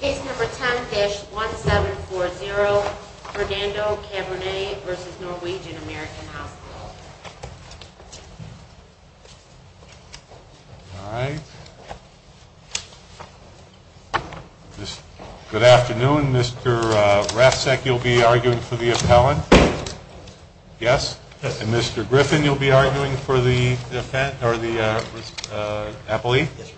Case number 10-1740, Fernando Caburnay v. Norwegian American Hospital Good afternoon. Mr. Rafsek, you'll be arguing for the appellant? Yes. And Mr. Griffin, you'll be arguing for the appellee? Yes.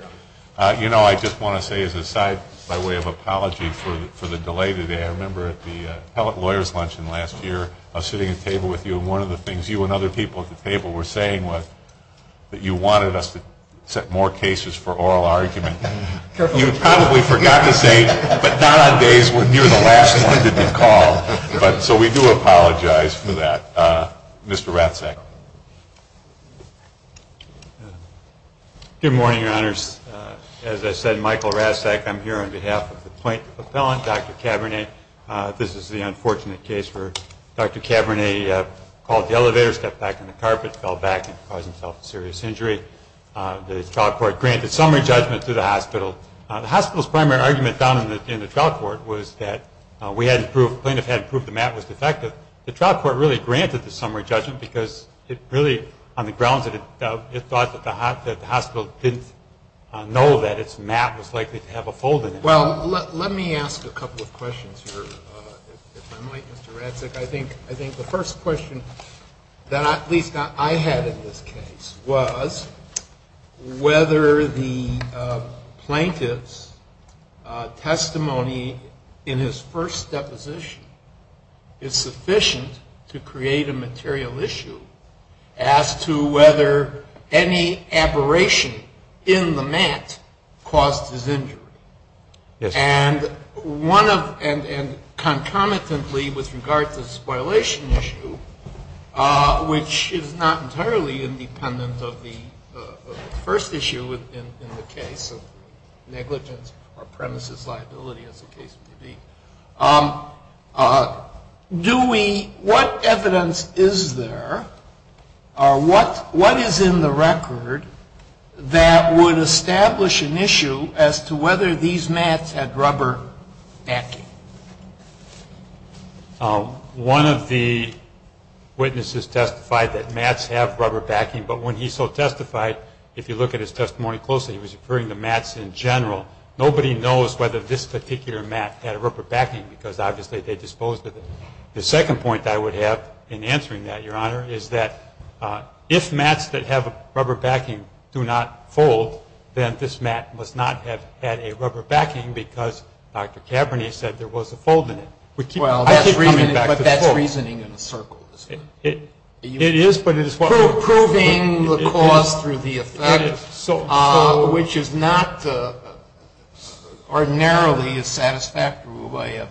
You know, I just want to say as an aside, by way of apology for the delay today, I remember at the appellate lawyer's luncheon last year, I was sitting at a table with you, and one of the things you and other people at the table were saying was that you wanted us to set more cases for oral argument. Careful. You probably forgot to say, but not on days when you're the last one to be called. So we do apologize for that. Mr. Rafsek. Good morning, Your Honors. As I said, Michael Rafsek. I'm here on behalf of the plaintiff appellant, Dr. Caburnay. This is the unfortunate case where Dr. Caburnay called the elevator, stepped back on the carpet, fell back and caused himself a serious injury. The trial court granted summary judgment to the hospital. The hospital's primary argument down in the trial court was that we hadn't proved, the plaintiff hadn't proved the mat was defective. The trial court really granted the summary judgment because it really, on the grounds that it thought that the hospital didn't know that its mat was likely to have a fold in it. Well, let me ask a couple of questions here, if I might, Mr. Rafsek. I think the first question that at least I had in this case was whether the plaintiff's testimony in his first deposition is sufficient to create a material issue as to whether any aberration in the mat caused his injury. And one of, and concomitantly with regard to the spoilation issue, which is not entirely independent of the first issue in the case of negligence or premises liability as the case may be. Do we, what evidence is there or what is in the record that would establish an issue as to whether these mats had rubber backing? One of the witnesses testified that mats have rubber backing, but when he so testified, if you look at his testimony closely, he was referring to mats in general. Nobody knows whether this particular mat had a rubber backing because obviously they disposed of it. The second point I would have in answering that, Your Honor, is that if mats that have a rubber backing do not fold, then this mat must not have had a rubber backing because Dr. Cabernet said there was a fold in it. Well, that's reasoning in a circle, isn't it? It is, but it is what we're proving. Proving the cause through the effect, which is not ordinarily a satisfactory way of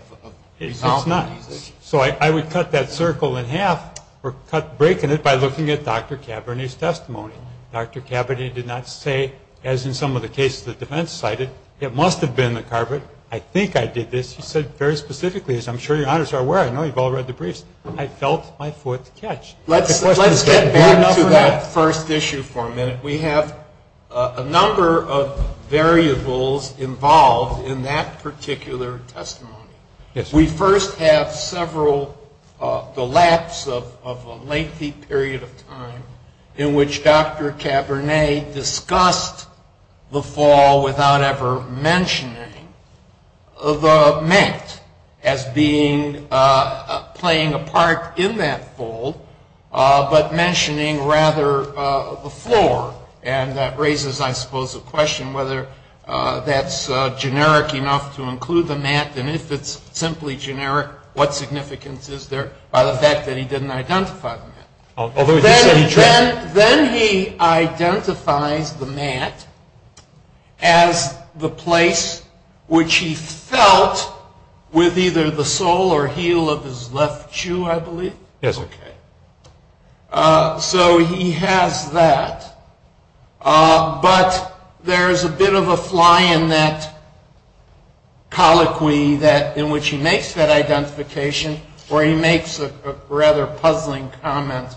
resolving these issues. It's not. So I would cut that circle in half or cut, break in it by looking at Dr. Cabernet's testimony. Dr. Cabernet did not say, as in some of the cases the defense cited, it must have been the carpet. I think I did this. He said very specifically, as I'm sure Your Honors are aware. I know you've all read the briefs. I felt my foot catch. Let's get back to that first issue for a minute. We have a number of variables involved in that particular testimony. Yes. We first have several, the lapse of a lengthy period of time in which Dr. Cabernet discussed the fall without ever mentioning the mat as being, playing a part in that fold, but mentioning rather the floor. And that raises, I suppose, a question whether that's generic enough to include the mat. And if it's simply generic, what significance is there by the fact that he didn't identify the mat? Then he identifies the mat as the place which he felt with either the sole or heel of his left shoe, I believe. Yes. Okay. So he has that. But there's a bit of a fly in that colloquy in which he makes that identification, where he makes a rather puzzling comment.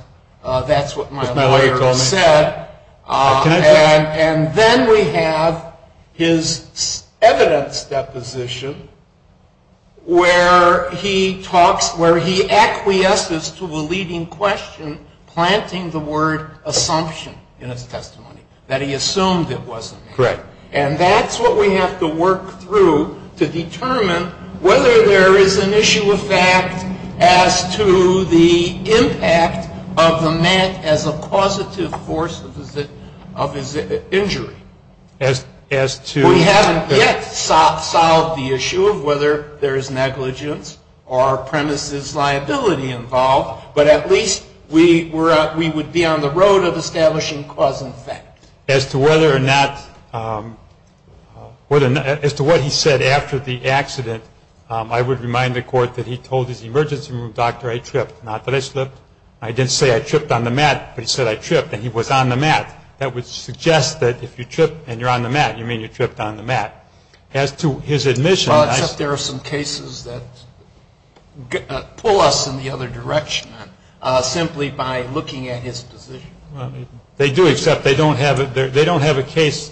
That's what my lawyer said. And then we have his evidence deposition where he talks, where he acquiesces to a leading question, planting the word assumption in his testimony, that he assumed it wasn't. Correct. As to whether or not, as to what he said after the accident, I would remind the Court that he told his emergency room doctor, I tripped. Not that I slipped. I didn't say I tripped on the mat. But he said I tripped. And he was on the mat. That would suggest that if you trip and you're on the mat, you mean you tripped on the mat. As to his admission. Well, except there are some cases that pull us in the other direction, simply by looking at his position. They do, except they don't have a case,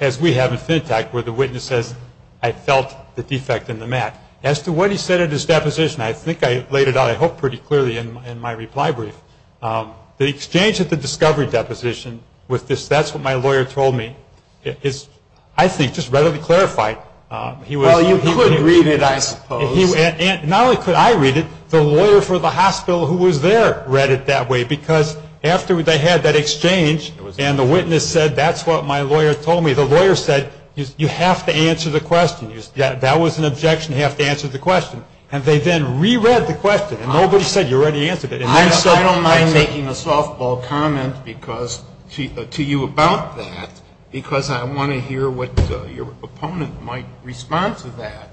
as we have at FinTech, where the witness says, I felt the defect in the mat. As to what he said at his deposition, I think I laid it out, I hope, pretty clearly in my reply brief. The exchange at the discovery deposition, with this, that's what my lawyer told me, is, I think, just readily clarified. Well, you could read it, I suppose. Not only could I read it, the lawyer for the hospital who was there read it that way. Because after they had that exchange, and the witness said, that's what my lawyer told me, the lawyer said, you have to answer the question. That was an objection, you have to answer the question. And they then re-read the question, and nobody said you already answered it. I don't mind making a softball comment to you about that, because I want to hear what your opponent might respond to that.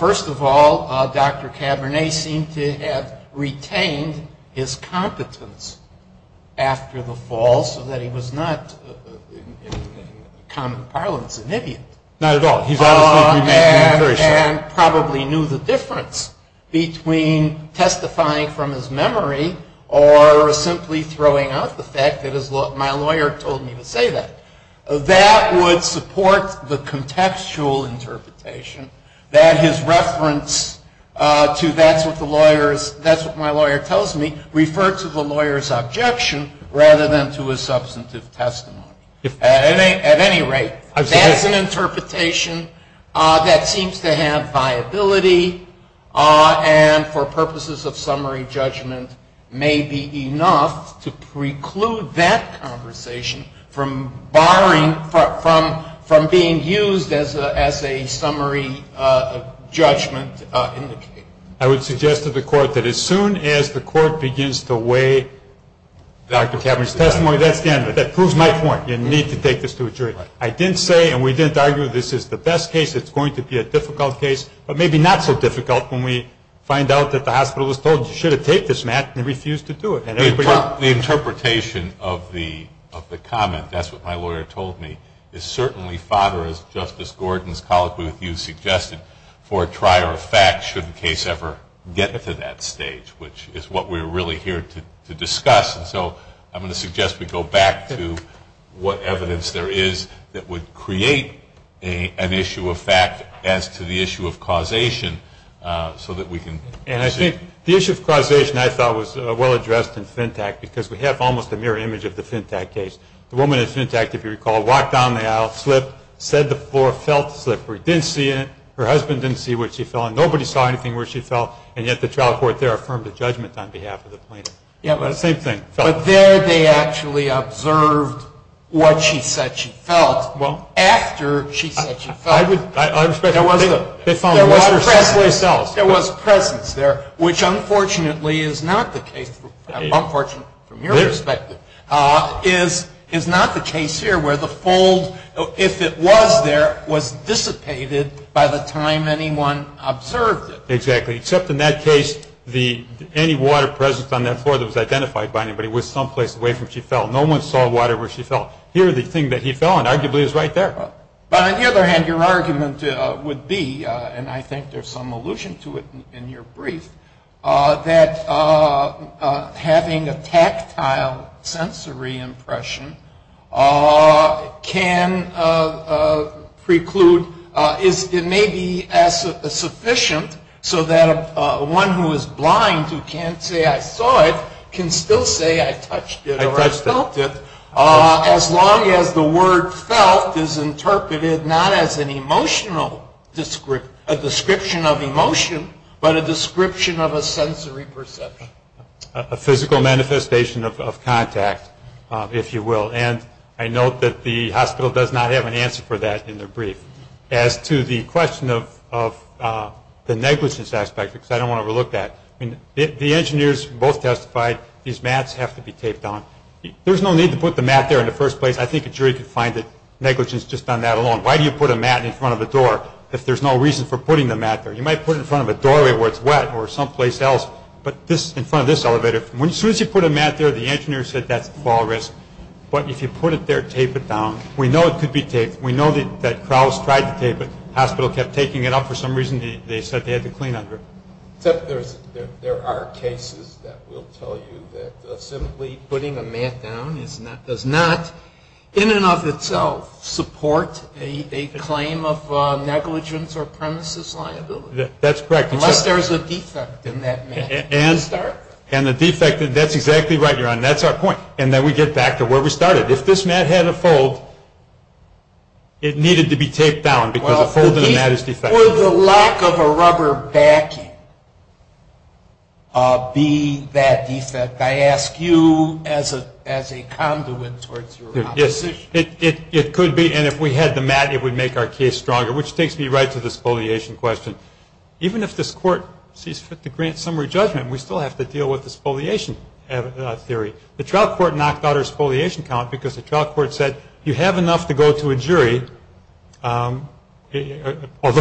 First of all, Dr. Cabernet seemed to have retained his competence after the fall, so that he was not, in common parlance, an idiot. Not at all. And probably knew the difference between testifying from his memory or simply throwing out the fact that my lawyer told me to say that. That would support the contextual interpretation that his reference to, that's what my lawyer tells me, referred to the lawyer's objection, rather than to his substantive testimony. At any rate, that's an interpretation that seems to have viability, and for purposes of summary judgment, may be enough to preclude that conversation from being used as a summary judgment. I would suggest to the Court that as soon as the Court begins to weigh Dr. Cabernet's testimony, that proves my point, you need to take this to a jury. I didn't say, and we didn't argue, this is the best case, it's going to be a difficult case, but maybe not so difficult when we find out that the hospital is told, you should have taken this, Matt, and refused to do it. The interpretation of the comment, that's what my lawyer told me, is certainly fodder, as Justice Gordon's colloquy with you suggested, for a trier of facts should the case ever get to that stage, which is what we're really here to discuss. And so I'm going to suggest we go back to what evidence there is that would create an issue of fact as to the issue of causation, so that we can see. And I think the issue of causation, I thought, was well addressed in Fintach, because we have almost a mirror image of the Fintach case. The woman in Fintach, if you recall, walked down the aisle, slipped, said the floor felt slippery, didn't see it, her husband didn't see where she fell, and nobody saw anything where she fell, and yet the trial court there affirmed the judgment on behalf of the plaintiff. The same thing. But there they actually observed what she said she felt. Well, after she said she felt, there was presence there, which unfortunately is not the case, unfortunately from your perspective, is not the case here where the fold, if it was there, was dissipated by the time anyone observed it. Exactly. Except in that case, any water present on that floor that was identified by anybody was someplace away from where she fell. No one saw water where she fell. Here the thing that he fell on arguably is right there. But on the other hand, your argument would be, and I think there's some allusion to it in your brief, that having a tactile sensory impression can preclude, it may be sufficient so that one who is blind who can't say I saw it can still say I touched it or I felt it, as long as the word felt is interpreted not as an emotional description, a description of emotion, but a description of a sensory perception. A physical manifestation of contact, if you will. I note that the hospital does not have an answer for that in their brief. As to the question of the negligence aspect, because I don't want to overlook that, the engineers both testified these mats have to be taped on. There's no need to put the mat there in the first place. I think a jury could find negligence just on that alone. Why do you put a mat in front of a door if there's no reason for putting the mat there? You might put it in front of a doorway where it's wet or someplace else, but in front of this elevator, as soon as you put a mat there, the engineer said that's fall risk. But if you put it there, tape it down, we know it could be taped. We know that Krauss tried to tape it. The hospital kept taking it up for some reason. They said they had to clean under it. Except there are cases that will tell you that simply putting a mat down does not, in and of itself, support a claim of negligence or premises liability. That's correct. Unless there's a defect in that mat. And the defect, that's exactly right, Your Honor. That's our point. And then we get back to where we started. If this mat had a fold, it needed to be taped down because a fold in the mat is defective. Would the lack of a rubber backing be that defect? I ask you as a conduit towards your opposition. Yes. It could be. And if we had the mat, it would make our case stronger, which takes me right to this foliation question. Even if this Court sees fit to grant summary judgment, we still have to deal with the spoliation theory. The trial court knocked out our spoliation count because the trial court said, you have enough to go to a jury, although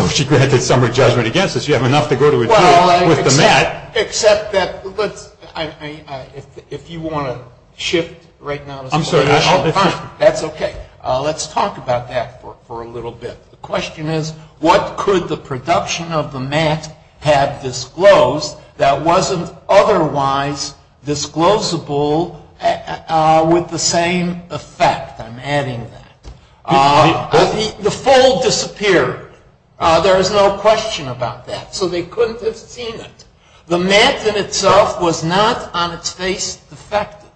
she granted summary judgment against us, you have enough to go to a jury with the mat. Except that if you want to shift right now to spoliation. I'm sorry. That's okay. Let's talk about that for a little bit. The question is, what could the production of the mat have disclosed that wasn't otherwise disclosable with the same effect? I'm adding that. The fold disappeared. There is no question about that. So they couldn't have seen it. The mat in itself was not on its face defective.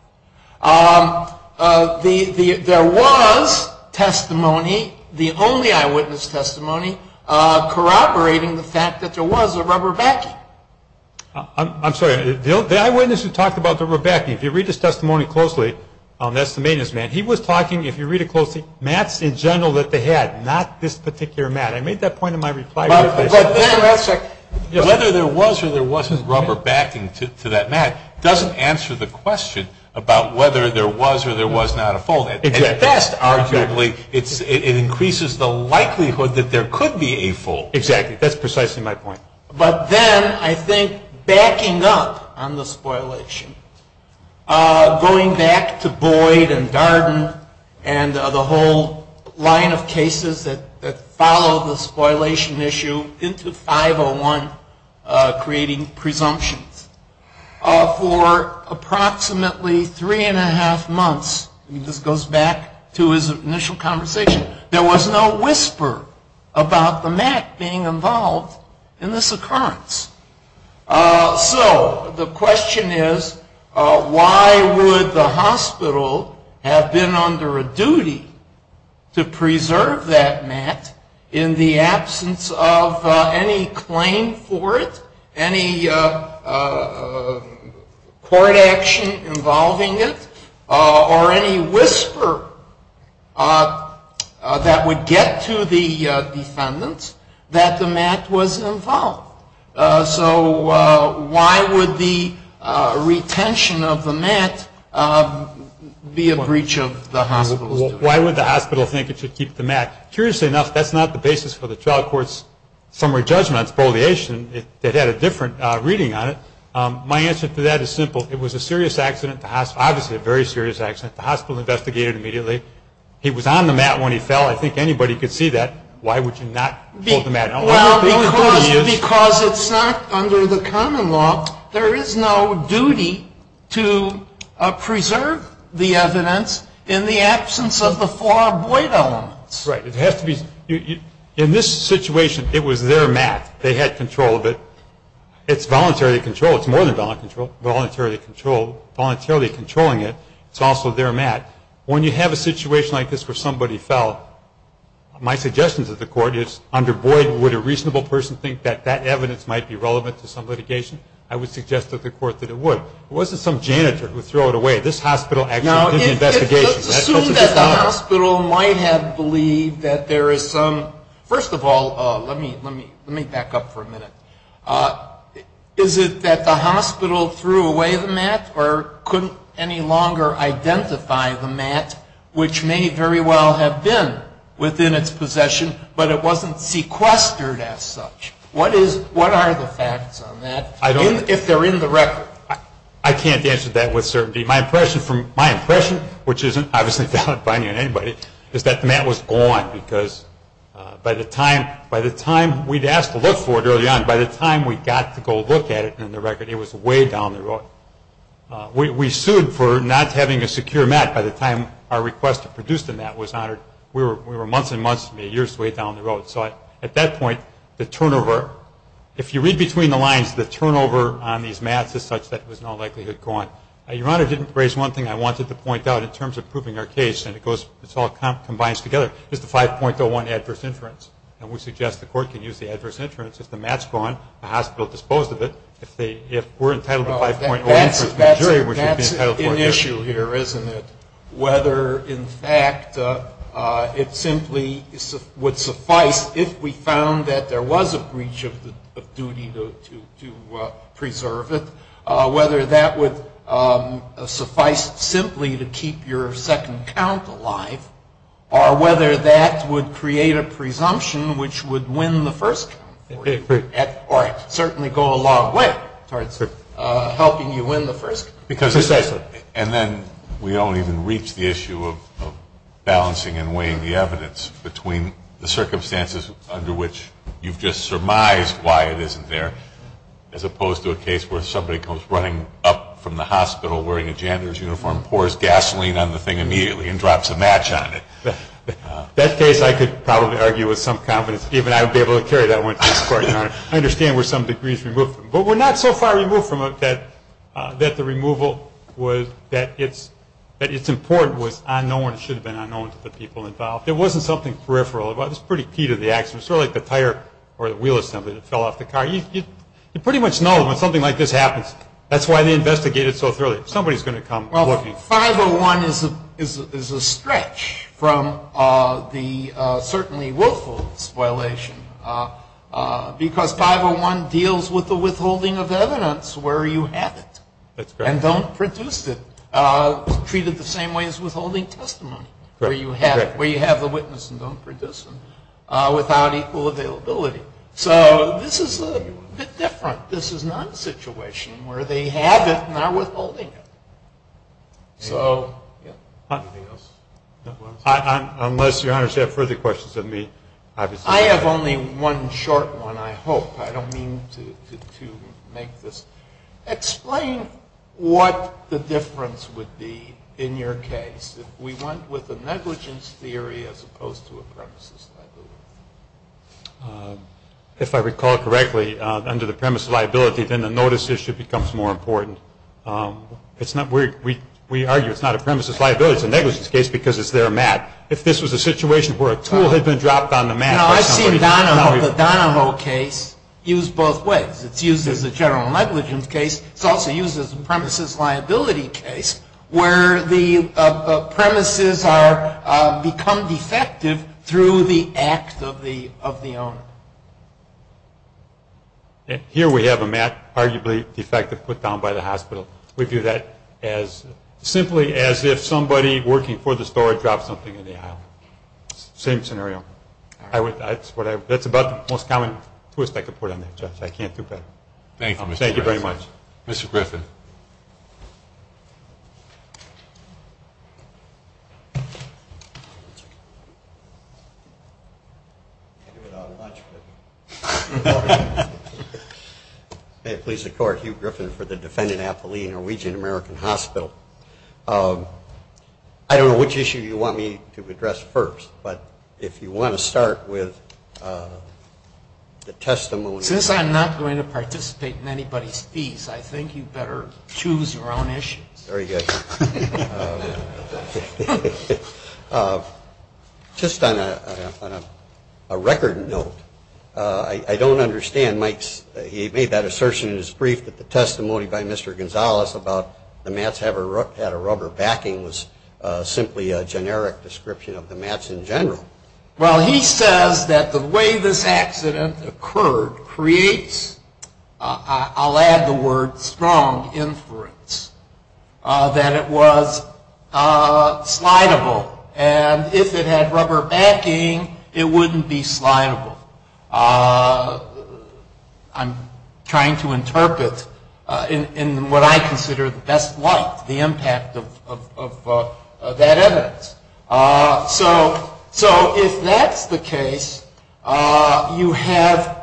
There was testimony, the only eyewitness testimony, corroborating the fact that there was a rubber backing. I'm sorry. The eyewitness who talked about the rubber backing, if you read his testimony closely, that's the maintenance man, he was talking, if you read it closely, mats in general that they had, not this particular mat. I made that point in my reply. Whether there was or there wasn't rubber backing to that mat doesn't answer the question about whether there was or there was not a fold. At best, arguably, it increases the likelihood that there could be a fold. Exactly. That's precisely my point. But then I think backing up on the spoliation, going back to Boyd and Darden and the whole line of cases that follow the spoliation issue into 501 creating presumptions, for approximately three and a half months, this goes back to his initial conversation, there was no whisper about the mat being involved in this occurrence. So the question is, why would the hospital have been under a duty to preserve that mat in the absence of any claim for it, any court action involving it, or any whisper that would get to the defendants that the mat was involved? So why would the retention of the mat be a breach of the hospital's duty? Why would the hospital think it should keep the mat? Curiously enough, that's not the basis for the trial court's summary judgment on spoliation. It had a different reading on it. My answer to that is simple. It was a serious accident, obviously a very serious accident. The hospital investigated immediately. He was on the mat when he fell. I think anybody could see that. Why would you not hold the mat? Because it's not under the common law, there is no duty to preserve the evidence in the absence of the four Boyd elements. Right. In this situation, it was their mat. They had control of it. It's voluntarily controlled. It's more than voluntarily controlled. Voluntarily controlling it is also their mat. When you have a situation like this where somebody fell, my suggestion to the court is under Boyd, would a reasonable person think that that evidence might be relevant to some litigation? I would suggest to the court that it would. It wasn't some janitor who threw it away. This hospital actually did the investigation. Assume that the hospital might have believed that there is some, first of all, let me back up for a minute. Is it that the hospital threw away the mat or couldn't any longer identify the mat, which may very well have been within its possession, but it wasn't sequestered as such? What are the facts on that if they're in the record? I can't answer that with certainty. My impression, which isn't obviously valid finding on anybody, is that the mat was gone because by the time we'd asked to look for it early on, by the time we got to go look at it in the record, it was way down the road. We sued for not having a secure mat by the time our request to produce the mat was honored. We were months and months to me, years way down the road. So at that point, the turnover, if you read between the lines, the turnover on these mats is such that it was in all likelihood gone. Your Honor didn't raise one thing I wanted to point out in terms of proving our case, and it goes, it all combines together, is the 5.01, adverse inference. And we suggest the Court can use the adverse inference if the mat's gone, the hospital disposed of it, if they, if we're entitled to 5.01 for the jury, we should be entitled to it. That's an issue here, isn't it? Whether, in fact, it simply would suffice if we found that there was a breach of duty to preserve it, whether that would suffice simply to keep your second count alive, or whether that would create a presumption which would win the first count, or certainly go a long way towards helping you win the first count. And then we don't even reach the issue of balancing and weighing the evidence between the circumstances under which you've just surmised why it isn't there, as opposed to a case where somebody comes running up from the hospital wearing a janitor's uniform, pours gasoline on the thing immediately, and drops a match on it. That case I could probably argue with some confidence. Even I would be able to carry that one to this Court, Your Honor. I understand we're some degrees removed from it. But we're not so far removed from it that the removal was, that it's important was unknown. It should have been unknown to the people involved. It wasn't something peripheral. It was pretty key to the action, sort of like the tire or the wheel assembly that fell off the car. You pretty much know when something like this happens, that's why they investigate it so thoroughly. Somebody's going to come looking. Well, 501 is a stretch from the certainly willful spoilation, because 501 deals with the withholding of evidence where you have it. That's correct. And don't produce it, treat it the same way as withholding testimony, where you have the witness and don't produce them, without equal availability. So this is a bit different. This is not a situation where they have it and are withholding it. So, yeah. Anything else? Unless, Your Honor, you have further questions of me, obviously. I have only one short one, I hope. I don't mean to make this. Explain what the difference would be in your case. If we went with a negligence theory as opposed to a premises liability. If I recall correctly, under the premise of liability, then the notice issue becomes more important. We argue it's not a premises liability. It's a negligence case because it's their mat. If this was a situation where a tool had been dropped on the mat. I've seen the Donovo case used both ways. It's used as a general negligence case. It's also used as a premises liability case where the premises become defective through the act of the owner. Here we have a mat, arguably defective, put down by the hospital. We view that as simply as if somebody working for the store dropped something in the aisle. Same scenario. That's about the most common twist I could put on that, Judge. I can't do better. Thank you, Mr. Griffin. Mr. Griffin. May it please the Court, Hugh Griffin for the defendant, Apolline, Norwegian American Hospital. I don't know which issue you want me to address first, but if you want to start with the testimony. Since I'm not going to participate in anybody's piece, I think you'd better choose your own issues. Very good. Just on a record note, I don't understand Mike's. He made that assertion in his brief that the testimony by Mr. Gonzales about the mats had a rubber backing was simply a generic description of the mats in general. Well, he says that the way this accident occurred creates, I'll add the word, strong inference that it was slidable. And if it had rubber backing, it wouldn't be slidable. I'm trying to interpret in what I consider the best light the impact of that evidence. So if that's the case, you have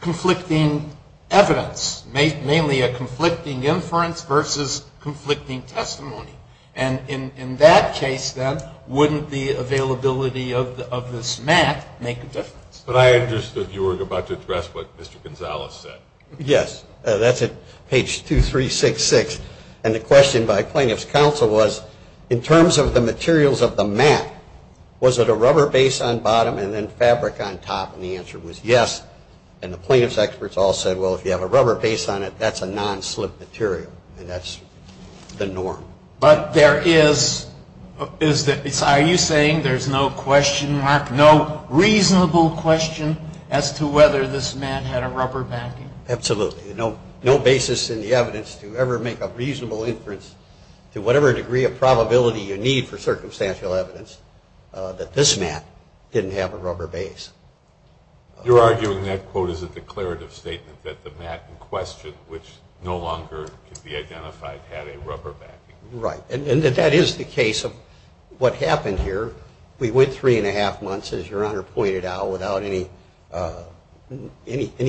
conflicting evidence, mainly a conflicting inference versus conflicting testimony. And in that case, then, wouldn't the availability of this mat make a difference? But I understood you were about to address what Mr. Gonzales said. Yes. That's at page 2366. And the question by plaintiff's counsel was, in terms of the materials of the mat, was it a rubber base on bottom and then fabric on top? And the answer was yes. And the plaintiff's experts all said, well, if you have a rubber base on it, that's a non-slip material. And that's the norm. But there is, are you saying there's no question mark, no reasonable question as to whether this man had a rubber backing? Absolutely. No basis in the evidence to ever make a reasonable inference to whatever degree of probability you need for circumstantial evidence that this mat didn't have a rubber base. You're arguing that quote is a declarative statement that the mat in question, which no longer could be identified, had a rubber backing. Right. And that is the case of what happened here. We went three and a half months, as your Honor pointed out, without any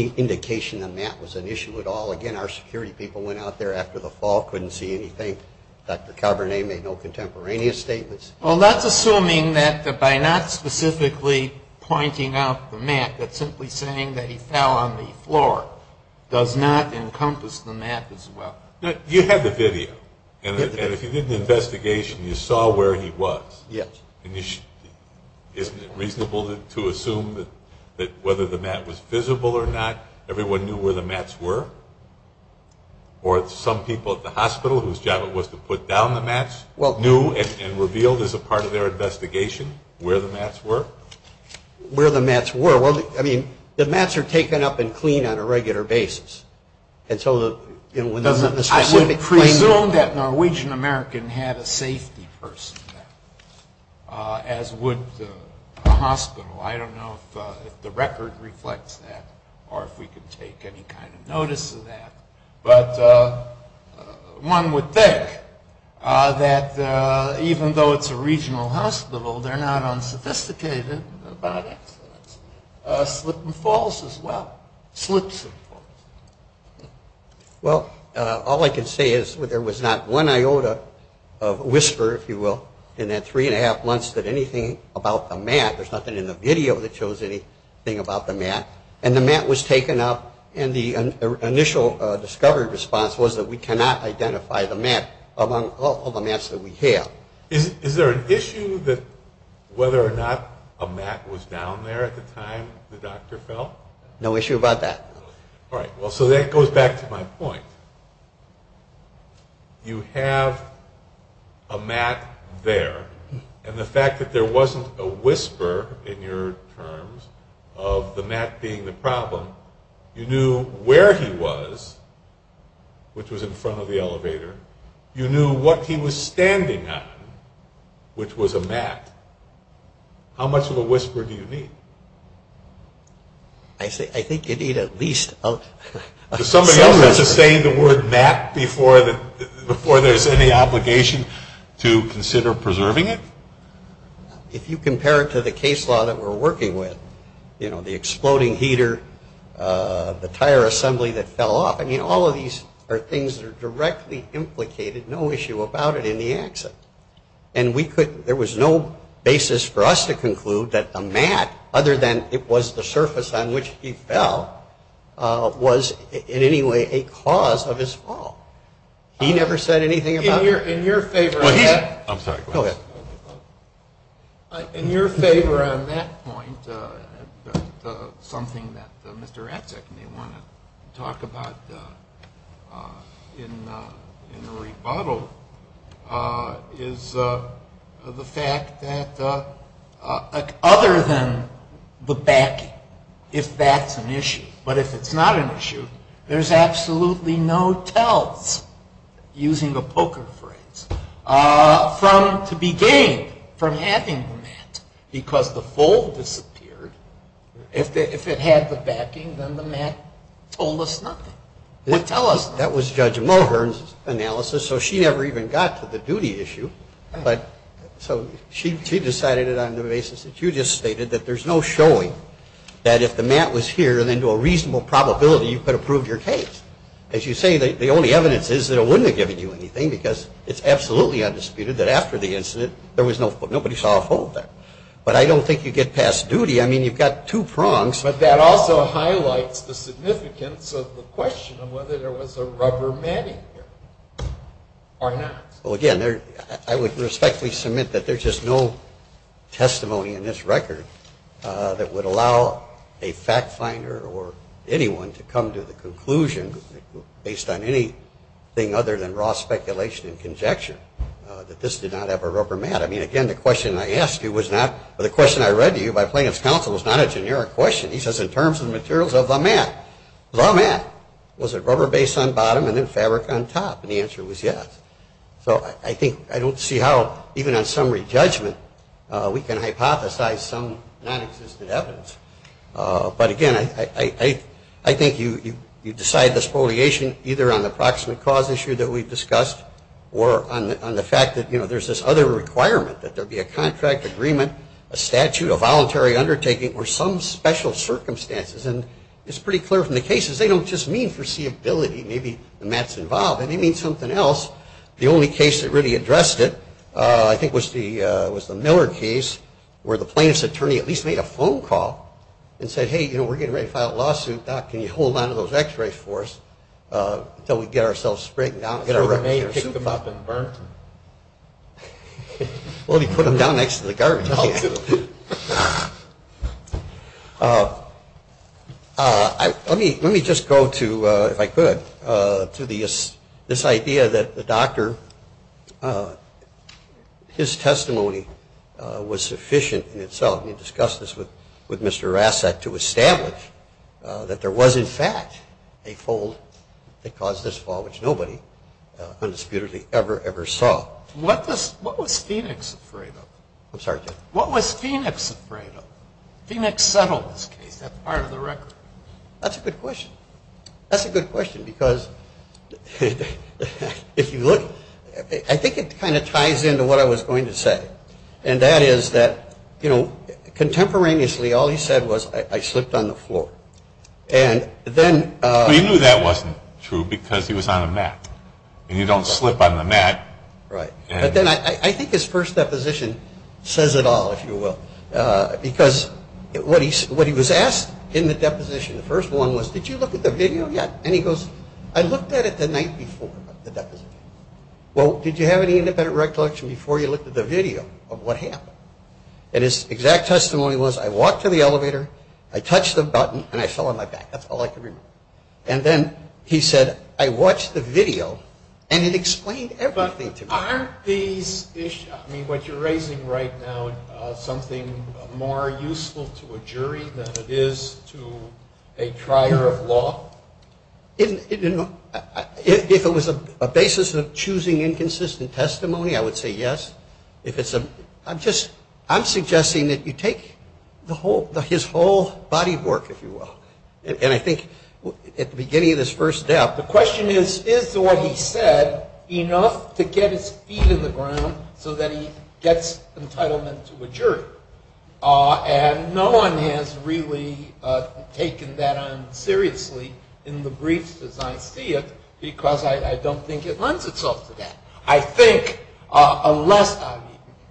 indication the mat was an issue at all. Again, our security people went out there after the fall, couldn't see anything. Dr. Cabernet made no contemporaneous statements. Well, that's assuming that by not specifically pointing out the mat, that simply saying that he fell on the floor does not encompass the mat as well. You had the video. And if you did an investigation, you saw where he was. Yes. Isn't it reasonable to assume that whether the mat was visible or not, everyone knew where the mats were? Or some people at the hospital whose job it was to put down the mats knew and revealed as a part of their investigation where the mats were? Where the mats were. Well, I mean, the mats are taken up and cleaned on a regular basis. I would presume that a Norwegian-American had a safety person there, as would a hospital. I don't know if the record reflects that or if we can take any kind of notice of that. But one would think that even though it's a regional hospital, they're not unsophisticated about accidents. Slip and falls as well. Slips and falls. Well, all I can say is there was not one iota of whisper, if you will, in that three and a half months that anything about the mat, there's nothing in the video that shows anything about the mat, and the mat was taken up. And the initial discovery response was that we cannot identify the mat among all the mats that we have. Is there an issue that whether or not a mat was down there at the time the doctor fell? No issue about that. All right. Well, so that goes back to my point. You have a mat there, and the fact that there wasn't a whisper in your terms of the mat being the problem, you knew where he was, which was in front of the elevator. You knew what he was standing on, which was a mat. How much of a whisper do you need? I think you need at least a sense of it. Does somebody else sustain the word mat before there's any obligation to consider preserving it? If you compare it to the case law that we're working with, you know, the exploding heater, the tire assembly that fell off, I mean, all of these are things that are directly implicated, no issue about it, in the accident. And there was no basis for us to conclude that the mat, other than it was the surface on which he fell, was in any way a cause of his fall. He never said anything about it. In your favor on that point, something that Mr. Ratzak may want to talk about in the rebuttal, is the fact that other than the backing, if that's an issue, but if it's not an issue, there's absolutely no tells, using the poker phrase, to be gained from having the mat. Because the fold disappeared. If it had the backing, then the mat told us nothing, would tell us nothing. That was Judge Mulhern's analysis, so she never even got to the duty issue. So she decided it on the basis that you just stated, that there's no showing that if the mat was here, then to a reasonable probability, you could have proved your case. As you say, the only evidence is that it wouldn't have given you anything, because it's absolutely undisputed that after the incident, nobody saw a fold there. But I don't think you get past duty. I mean, you've got two prongs. But that also highlights the significance of the question of whether there was a rubber mat in here or not. Well, again, I would respectfully submit that there's just no testimony in this record that would allow a fact finder or anyone to come to the conclusion, based on anything other than raw speculation and conjecture, that this did not have a rubber mat. I mean, again, the question I asked you was not, but the question I read to you by plaintiff's counsel was not a generic question. He says, in terms of the materials of the mat. The mat. Was it rubber base on bottom and then fabric on top? And the answer was yes. So I think I don't see how, even on summary judgment, we can hypothesize some nonexistent evidence. But, again, I think you decide the spoliation either on the proximate cause issue that we've discussed or on the fact that, you know, there's this other requirement, that there be a contract agreement, a statute, a voluntary undertaking, or some special circumstances. And it's pretty clear from the cases, they don't just mean foreseeability. Maybe the mat's involved. It may mean something else. The only case that really addressed it, I think, was the Miller case, where the plaintiff's attorney at least made a phone call and said, hey, you know, we're getting ready to file a lawsuit. Doc, can you hold on to those x-rays for us until we get ourselves sprayed down and get our records? Throw them in a soup pot. Pick them up and burn them. Well, he put them down next to the garbage. Let me just go to, if I could, to this idea that the doctor, his testimony was sufficient in itself. We discussed this with Mr. Rasset to establish that there was, in fact, a fold that caused this fall, which nobody undisputedly ever, ever saw. What was Phoenix afraid of? I'm sorry, Jeff. What was Phoenix afraid of? Phoenix settled this case. That's part of the record. That's a good question. That's a good question, because if you look, I think it kind of ties into what I was going to say, and that is that, you know, contemporaneously all he said was, I slipped on the floor. But you knew that wasn't true because he was on a mat, and you don't slip on the mat. Right. But then I think his first deposition says it all, if you will, because what he was asked in the deposition, the first one was, did you look at the video yet? And he goes, I looked at it the night before the deposition. Well, did you have any independent recollection before you looked at the video of what happened? And his exact testimony was, I walked to the elevator, I touched the button, and I fell on my back. That's all I can remember. And then he said, I watched the video, and it explained everything to me. Aren't these issues, I mean, what you're raising right now, something more useful to a jury than it is to a trier of law? If it was a basis of choosing inconsistent testimony, I would say yes. I'm suggesting that you take his whole body of work, if you will, and I think at the beginning of this first step, the question is, is what he said enough to get his feet in the ground so that he gets entitlement to a jury? And no one has really taken that on seriously in the briefs as I see it, because I don't think it lends itself to that. I think unless,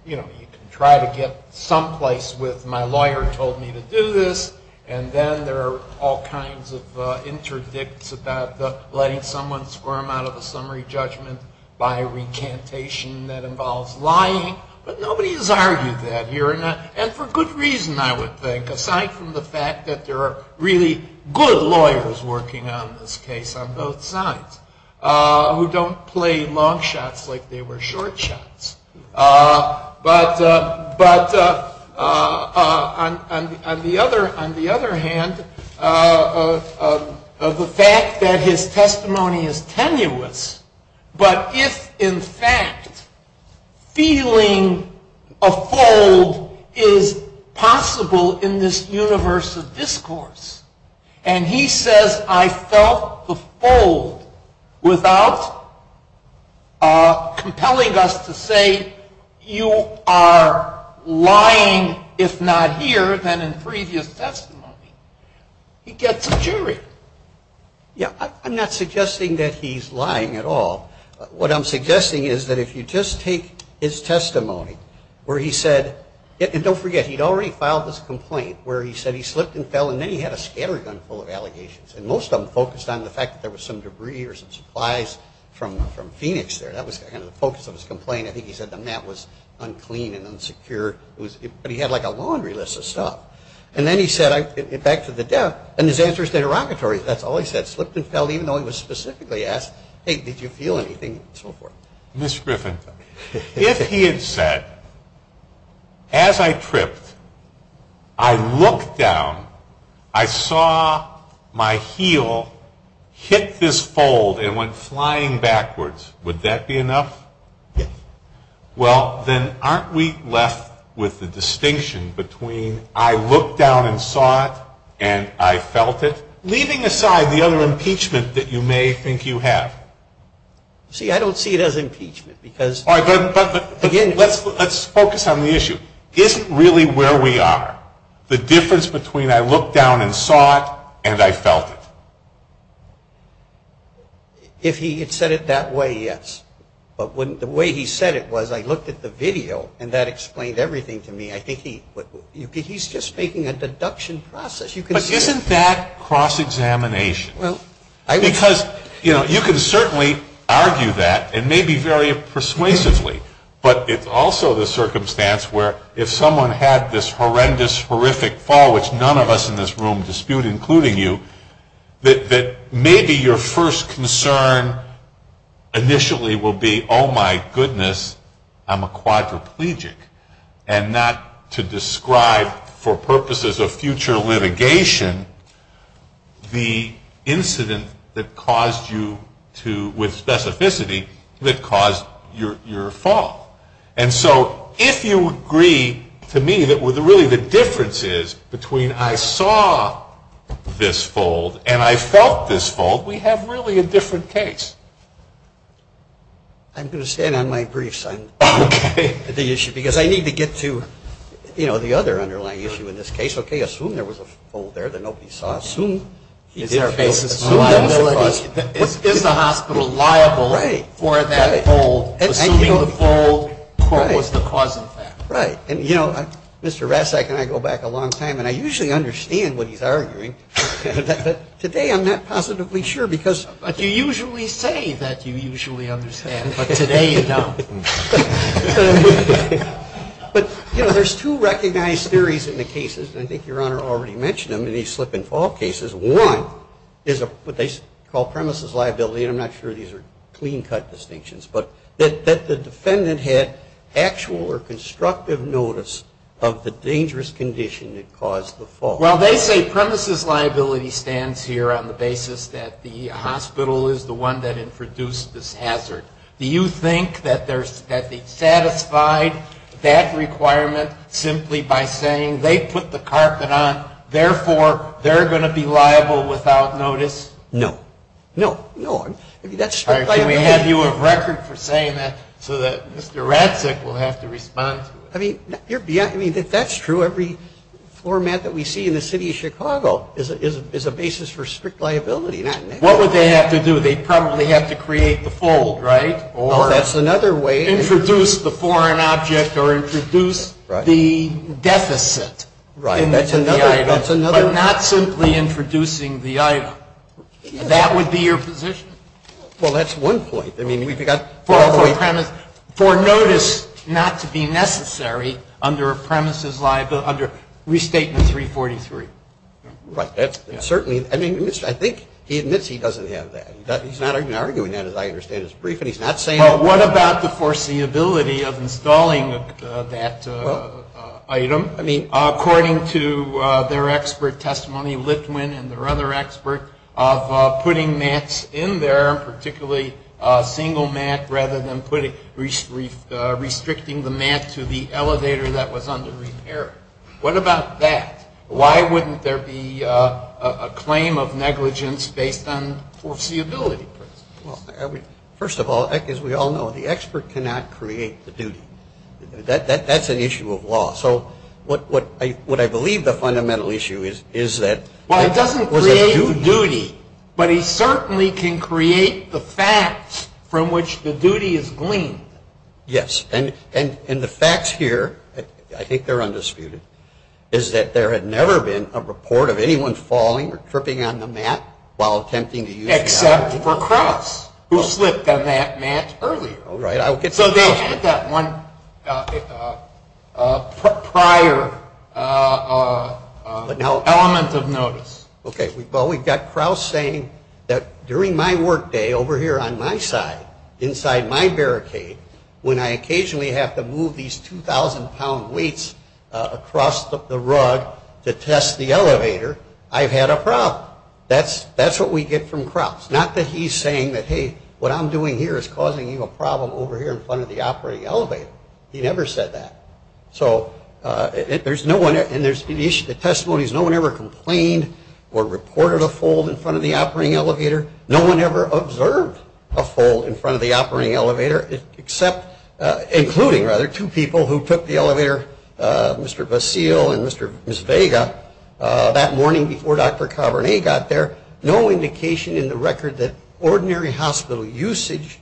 you know, you can try to get someplace with my lawyer told me to do this, and then there are all kinds of interdicts about letting someone squirm out of a summary judgment by recantation that involves lying. But nobody has argued that here, and for good reason, I would think, aside from the fact that there are really good lawyers working on this case on both sides, who don't play long shots like they were short shots. But on the other hand, the fact that his testimony is tenuous, but if in fact feeling a fold is possible in this universe of discourse, and he says I felt the fold without compelling us to say you are lying, if not here, then in previous testimony, he gets a jury. Yeah, I'm not suggesting that he's lying at all. What I'm suggesting is that if you just take his testimony where he said, and don't forget, he'd already filed this complaint where he said he slipped and fell, and then he had a scattergun full of allegations, and most of them focused on the fact that there was some debris or some supplies from Phoenix there. That was kind of the focus of his complaint. I think he said the map was unclean and unsecure, but he had like a laundry list of stuff. And then he said, back to the death, and his answer is derogatory. That's all he said, slipped and fell, even though he was specifically asked, hey, did you feel anything, and so forth. Ms. Griffin, if he had said, as I tripped, I looked down, I saw my heel hit this fold and went flying backwards, would that be enough? Yes. Well, then aren't we left with the distinction between I looked down and saw it and I felt it, leaving aside the other impeachment that you may think you have? See, I don't see it as impeachment because, again. All right, but let's focus on the issue. Isn't really where we are the difference between I looked down and saw it and I felt it? If he had said it that way, yes. But the way he said it was I looked at the video, and that explained everything to me. I think he's just making a deduction process. But isn't that cross-examination? Because, you know, you can certainly argue that, and maybe very persuasively, but it's also the circumstance where if someone had this horrendous, horrific fall, which none of us in this room dispute, including you, that maybe your first concern initially will be, oh, my goodness, I'm a quadriplegic. And not to describe for purposes of future litigation the incident that caused you to, with specificity, that caused your fall. And so if you agree to me that really the difference is between I saw this fall and I felt this fall, we have really a different case. I'm going to stand on my briefs on the issue, because I need to get to, you know, the other underlying issue in this case. Okay, assume there was a fall there that nobody saw. Assume he did fall. Is the hospital liable for that fall, assuming the fall was the cause of that? Right. And, you know, Mr. Rastak and I go back a long time, and I usually understand what he's arguing. But today I'm not positively sure, because. But you usually say that you usually understand, but today you don't. But, you know, there's two recognized theories in the cases, and I think Your Honor already mentioned them in these slip-and-fall cases. One is what they call premises liability, and I'm not sure these are clean-cut distinctions, but that the defendant had actual or constructive notice of the dangerous condition that caused the fall. Well, they say premises liability stands here on the basis that the hospital is the one that introduced this hazard. Do you think that they satisfied that requirement simply by saying they put the carpet on, therefore they're going to be liable without notice? No. No. No. I mean, that's. All right. Can we have you a record for saying that so that Mr. Rastak will have to respond to it? I mean, you're beyond. I mean, if that's true, every format that we see in the City of Chicago is a basis for strict liability. What would they have to do? They'd probably have to create the fold, right? Well, that's another way. Introduce the foreign object or introduce the deficit. Right. That's another way. But not simply introducing the item. That would be your position. Well, that's one point. I mean, we've got four points. For notice not to be necessary under a premises liability under Restatement 343. Right. That's certainly. I mean, I think he admits he doesn't have that. He's not even arguing that, as I understand it. It's brief, and he's not saying. Well, what about the foreseeability of installing that item? I mean, according to their expert testimony, Lithwin and their other expert, of putting mats in there, particularly a single mat, rather than restricting the mat to the elevator that was under repair. What about that? Why wouldn't there be a claim of negligence based on foreseeability? Well, first of all, as we all know, the expert cannot create the duty. That's an issue of law. So what I believe the fundamental issue is that. Well, he doesn't create the duty, but he certainly can create the facts from which the duty is gleaned. Yes, and the facts here, I think they're undisputed, is that there had never been a report of anyone falling or tripping on the mat while attempting to use the elevator. Except for Cross, who slipped on that mat earlier. Right. So there's one prior element of notice. Okay. Well, we've got Cross saying that during my workday over here on my side, inside my barricade, when I occasionally have to move these 2,000-pound weights across the rug to test the elevator, I've had a problem. That's what we get from Cross. Not that he's saying that, hey, what I'm doing here is causing you a problem over here in front of the operating elevator. He never said that. So there's no one, and the testimony is no one ever complained or reported a fall in front of the operating elevator. No one ever observed a fall in front of the operating elevator, except including, rather, two people who took the elevator, Mr. Basile and Ms. Vega, that morning before Dr. Cabernet got there. No indication in the record that ordinary hospital usage,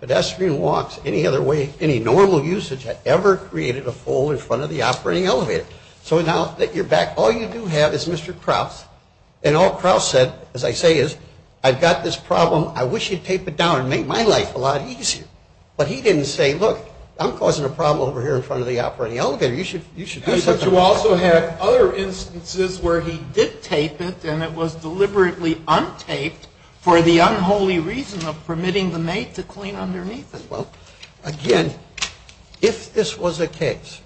pedestrian walks, any other way, any normal usage had ever created a fall in front of the operating elevator. So now that you're back, all you do have is Mr. Cross, and all Cross said, as I say, is I've got this problem, I wish you'd tape it down and make my life a lot easier. But he didn't say, look, I'm causing a problem over here in front of the operating elevator. You should do something. But you also have other instances where he did tape it, and it was deliberately untaped for the unholy reason of permitting the mate to clean underneath it. Well, again, if this was a case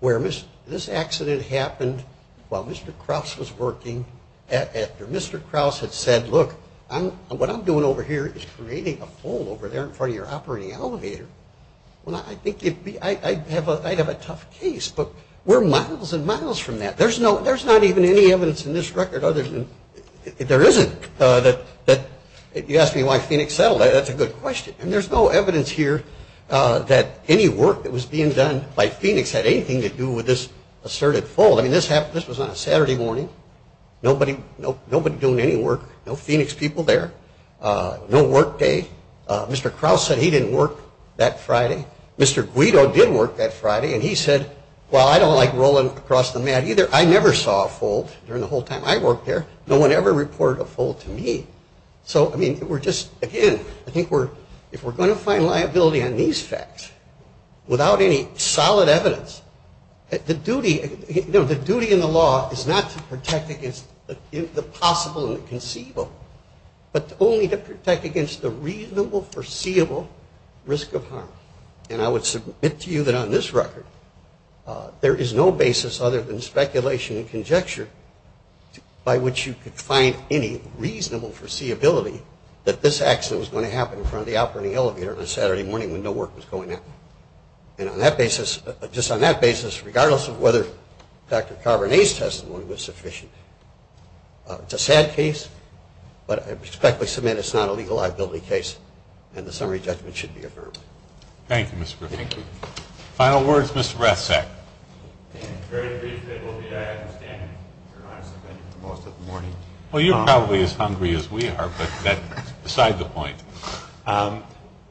where this accident happened while Mr. Cross was working, after Mr. Cross had said, look, what I'm doing over here is creating a fall over there in front of your operating elevator, well, I think I'd have a tough case. But we're miles and miles from that. There's not even any evidence in this record other than there isn't that you ask me why Phoenix settled. That's a good question. And there's no evidence here that any work that was being done by Phoenix had anything to do with this asserted fall. I mean, this was on a Saturday morning. Nobody doing any work. No Phoenix people there. No work day. Mr. Cross said he didn't work that Friday. Mr. Guido did work that Friday, and he said, well, I don't like rolling across the mat either. I never saw a fold during the whole time I worked there. No one ever reported a fold to me. So, I mean, we're just, again, I think if we're going to find liability on these facts without any solid evidence, the duty in the law is not to protect against the possible and the conceivable, but only to protect against the reasonable foreseeable risk of harm. And I would submit to you that on this record there is no basis other than speculation and conjecture by which you could find any reasonable foreseeability that this accident was going to happen in front of the operating elevator on a Saturday morning when no work was going on. And on that basis, just on that basis, regardless of whether Dr. Carbone's testimony was sufficient, it's a sad case, but I respectfully submit it's not a legal liability case, and the summary judgment should be affirmed. Thank you, Mr. Griffith. Thank you. Final words, Mr. Ratzak. Very briefly, it will be I understand you're not suspended for most of the morning. Well, you're probably as hungry as we are, but that's beside the point.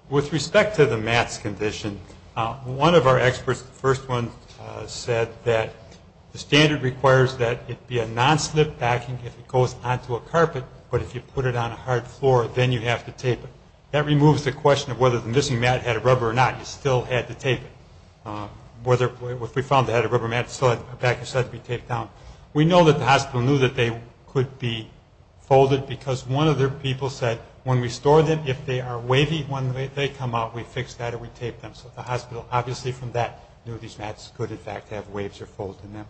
With respect to the mass condition, one of our experts, the first one, said that the standard requires that it be a non-slip backing if it goes onto a carpet, but if you put it on a hard floor, then you have to tape it. That removes the question of whether the missing mat had a rubber or not. You still had to tape it. If we found it had a rubber mat, it still had to be taped down. We know that the hospital knew that they could be folded because one of their people said, when we store them, if they are wavy when they come out, we fix that or we tape them. So the hospital obviously from that knew these mats could, in fact, have waves or folds in them.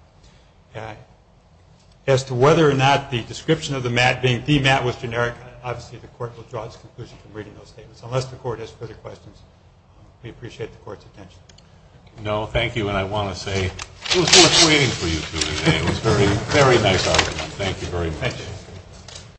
As to whether or not the description of the mat being demat was generic, obviously the court will draw its conclusion from reading those statements, unless the court has further questions. We appreciate the court's attention. No, thank you. And I want to say it was worth waiting for you two today. It was a very, very nice argument. Thank you very much.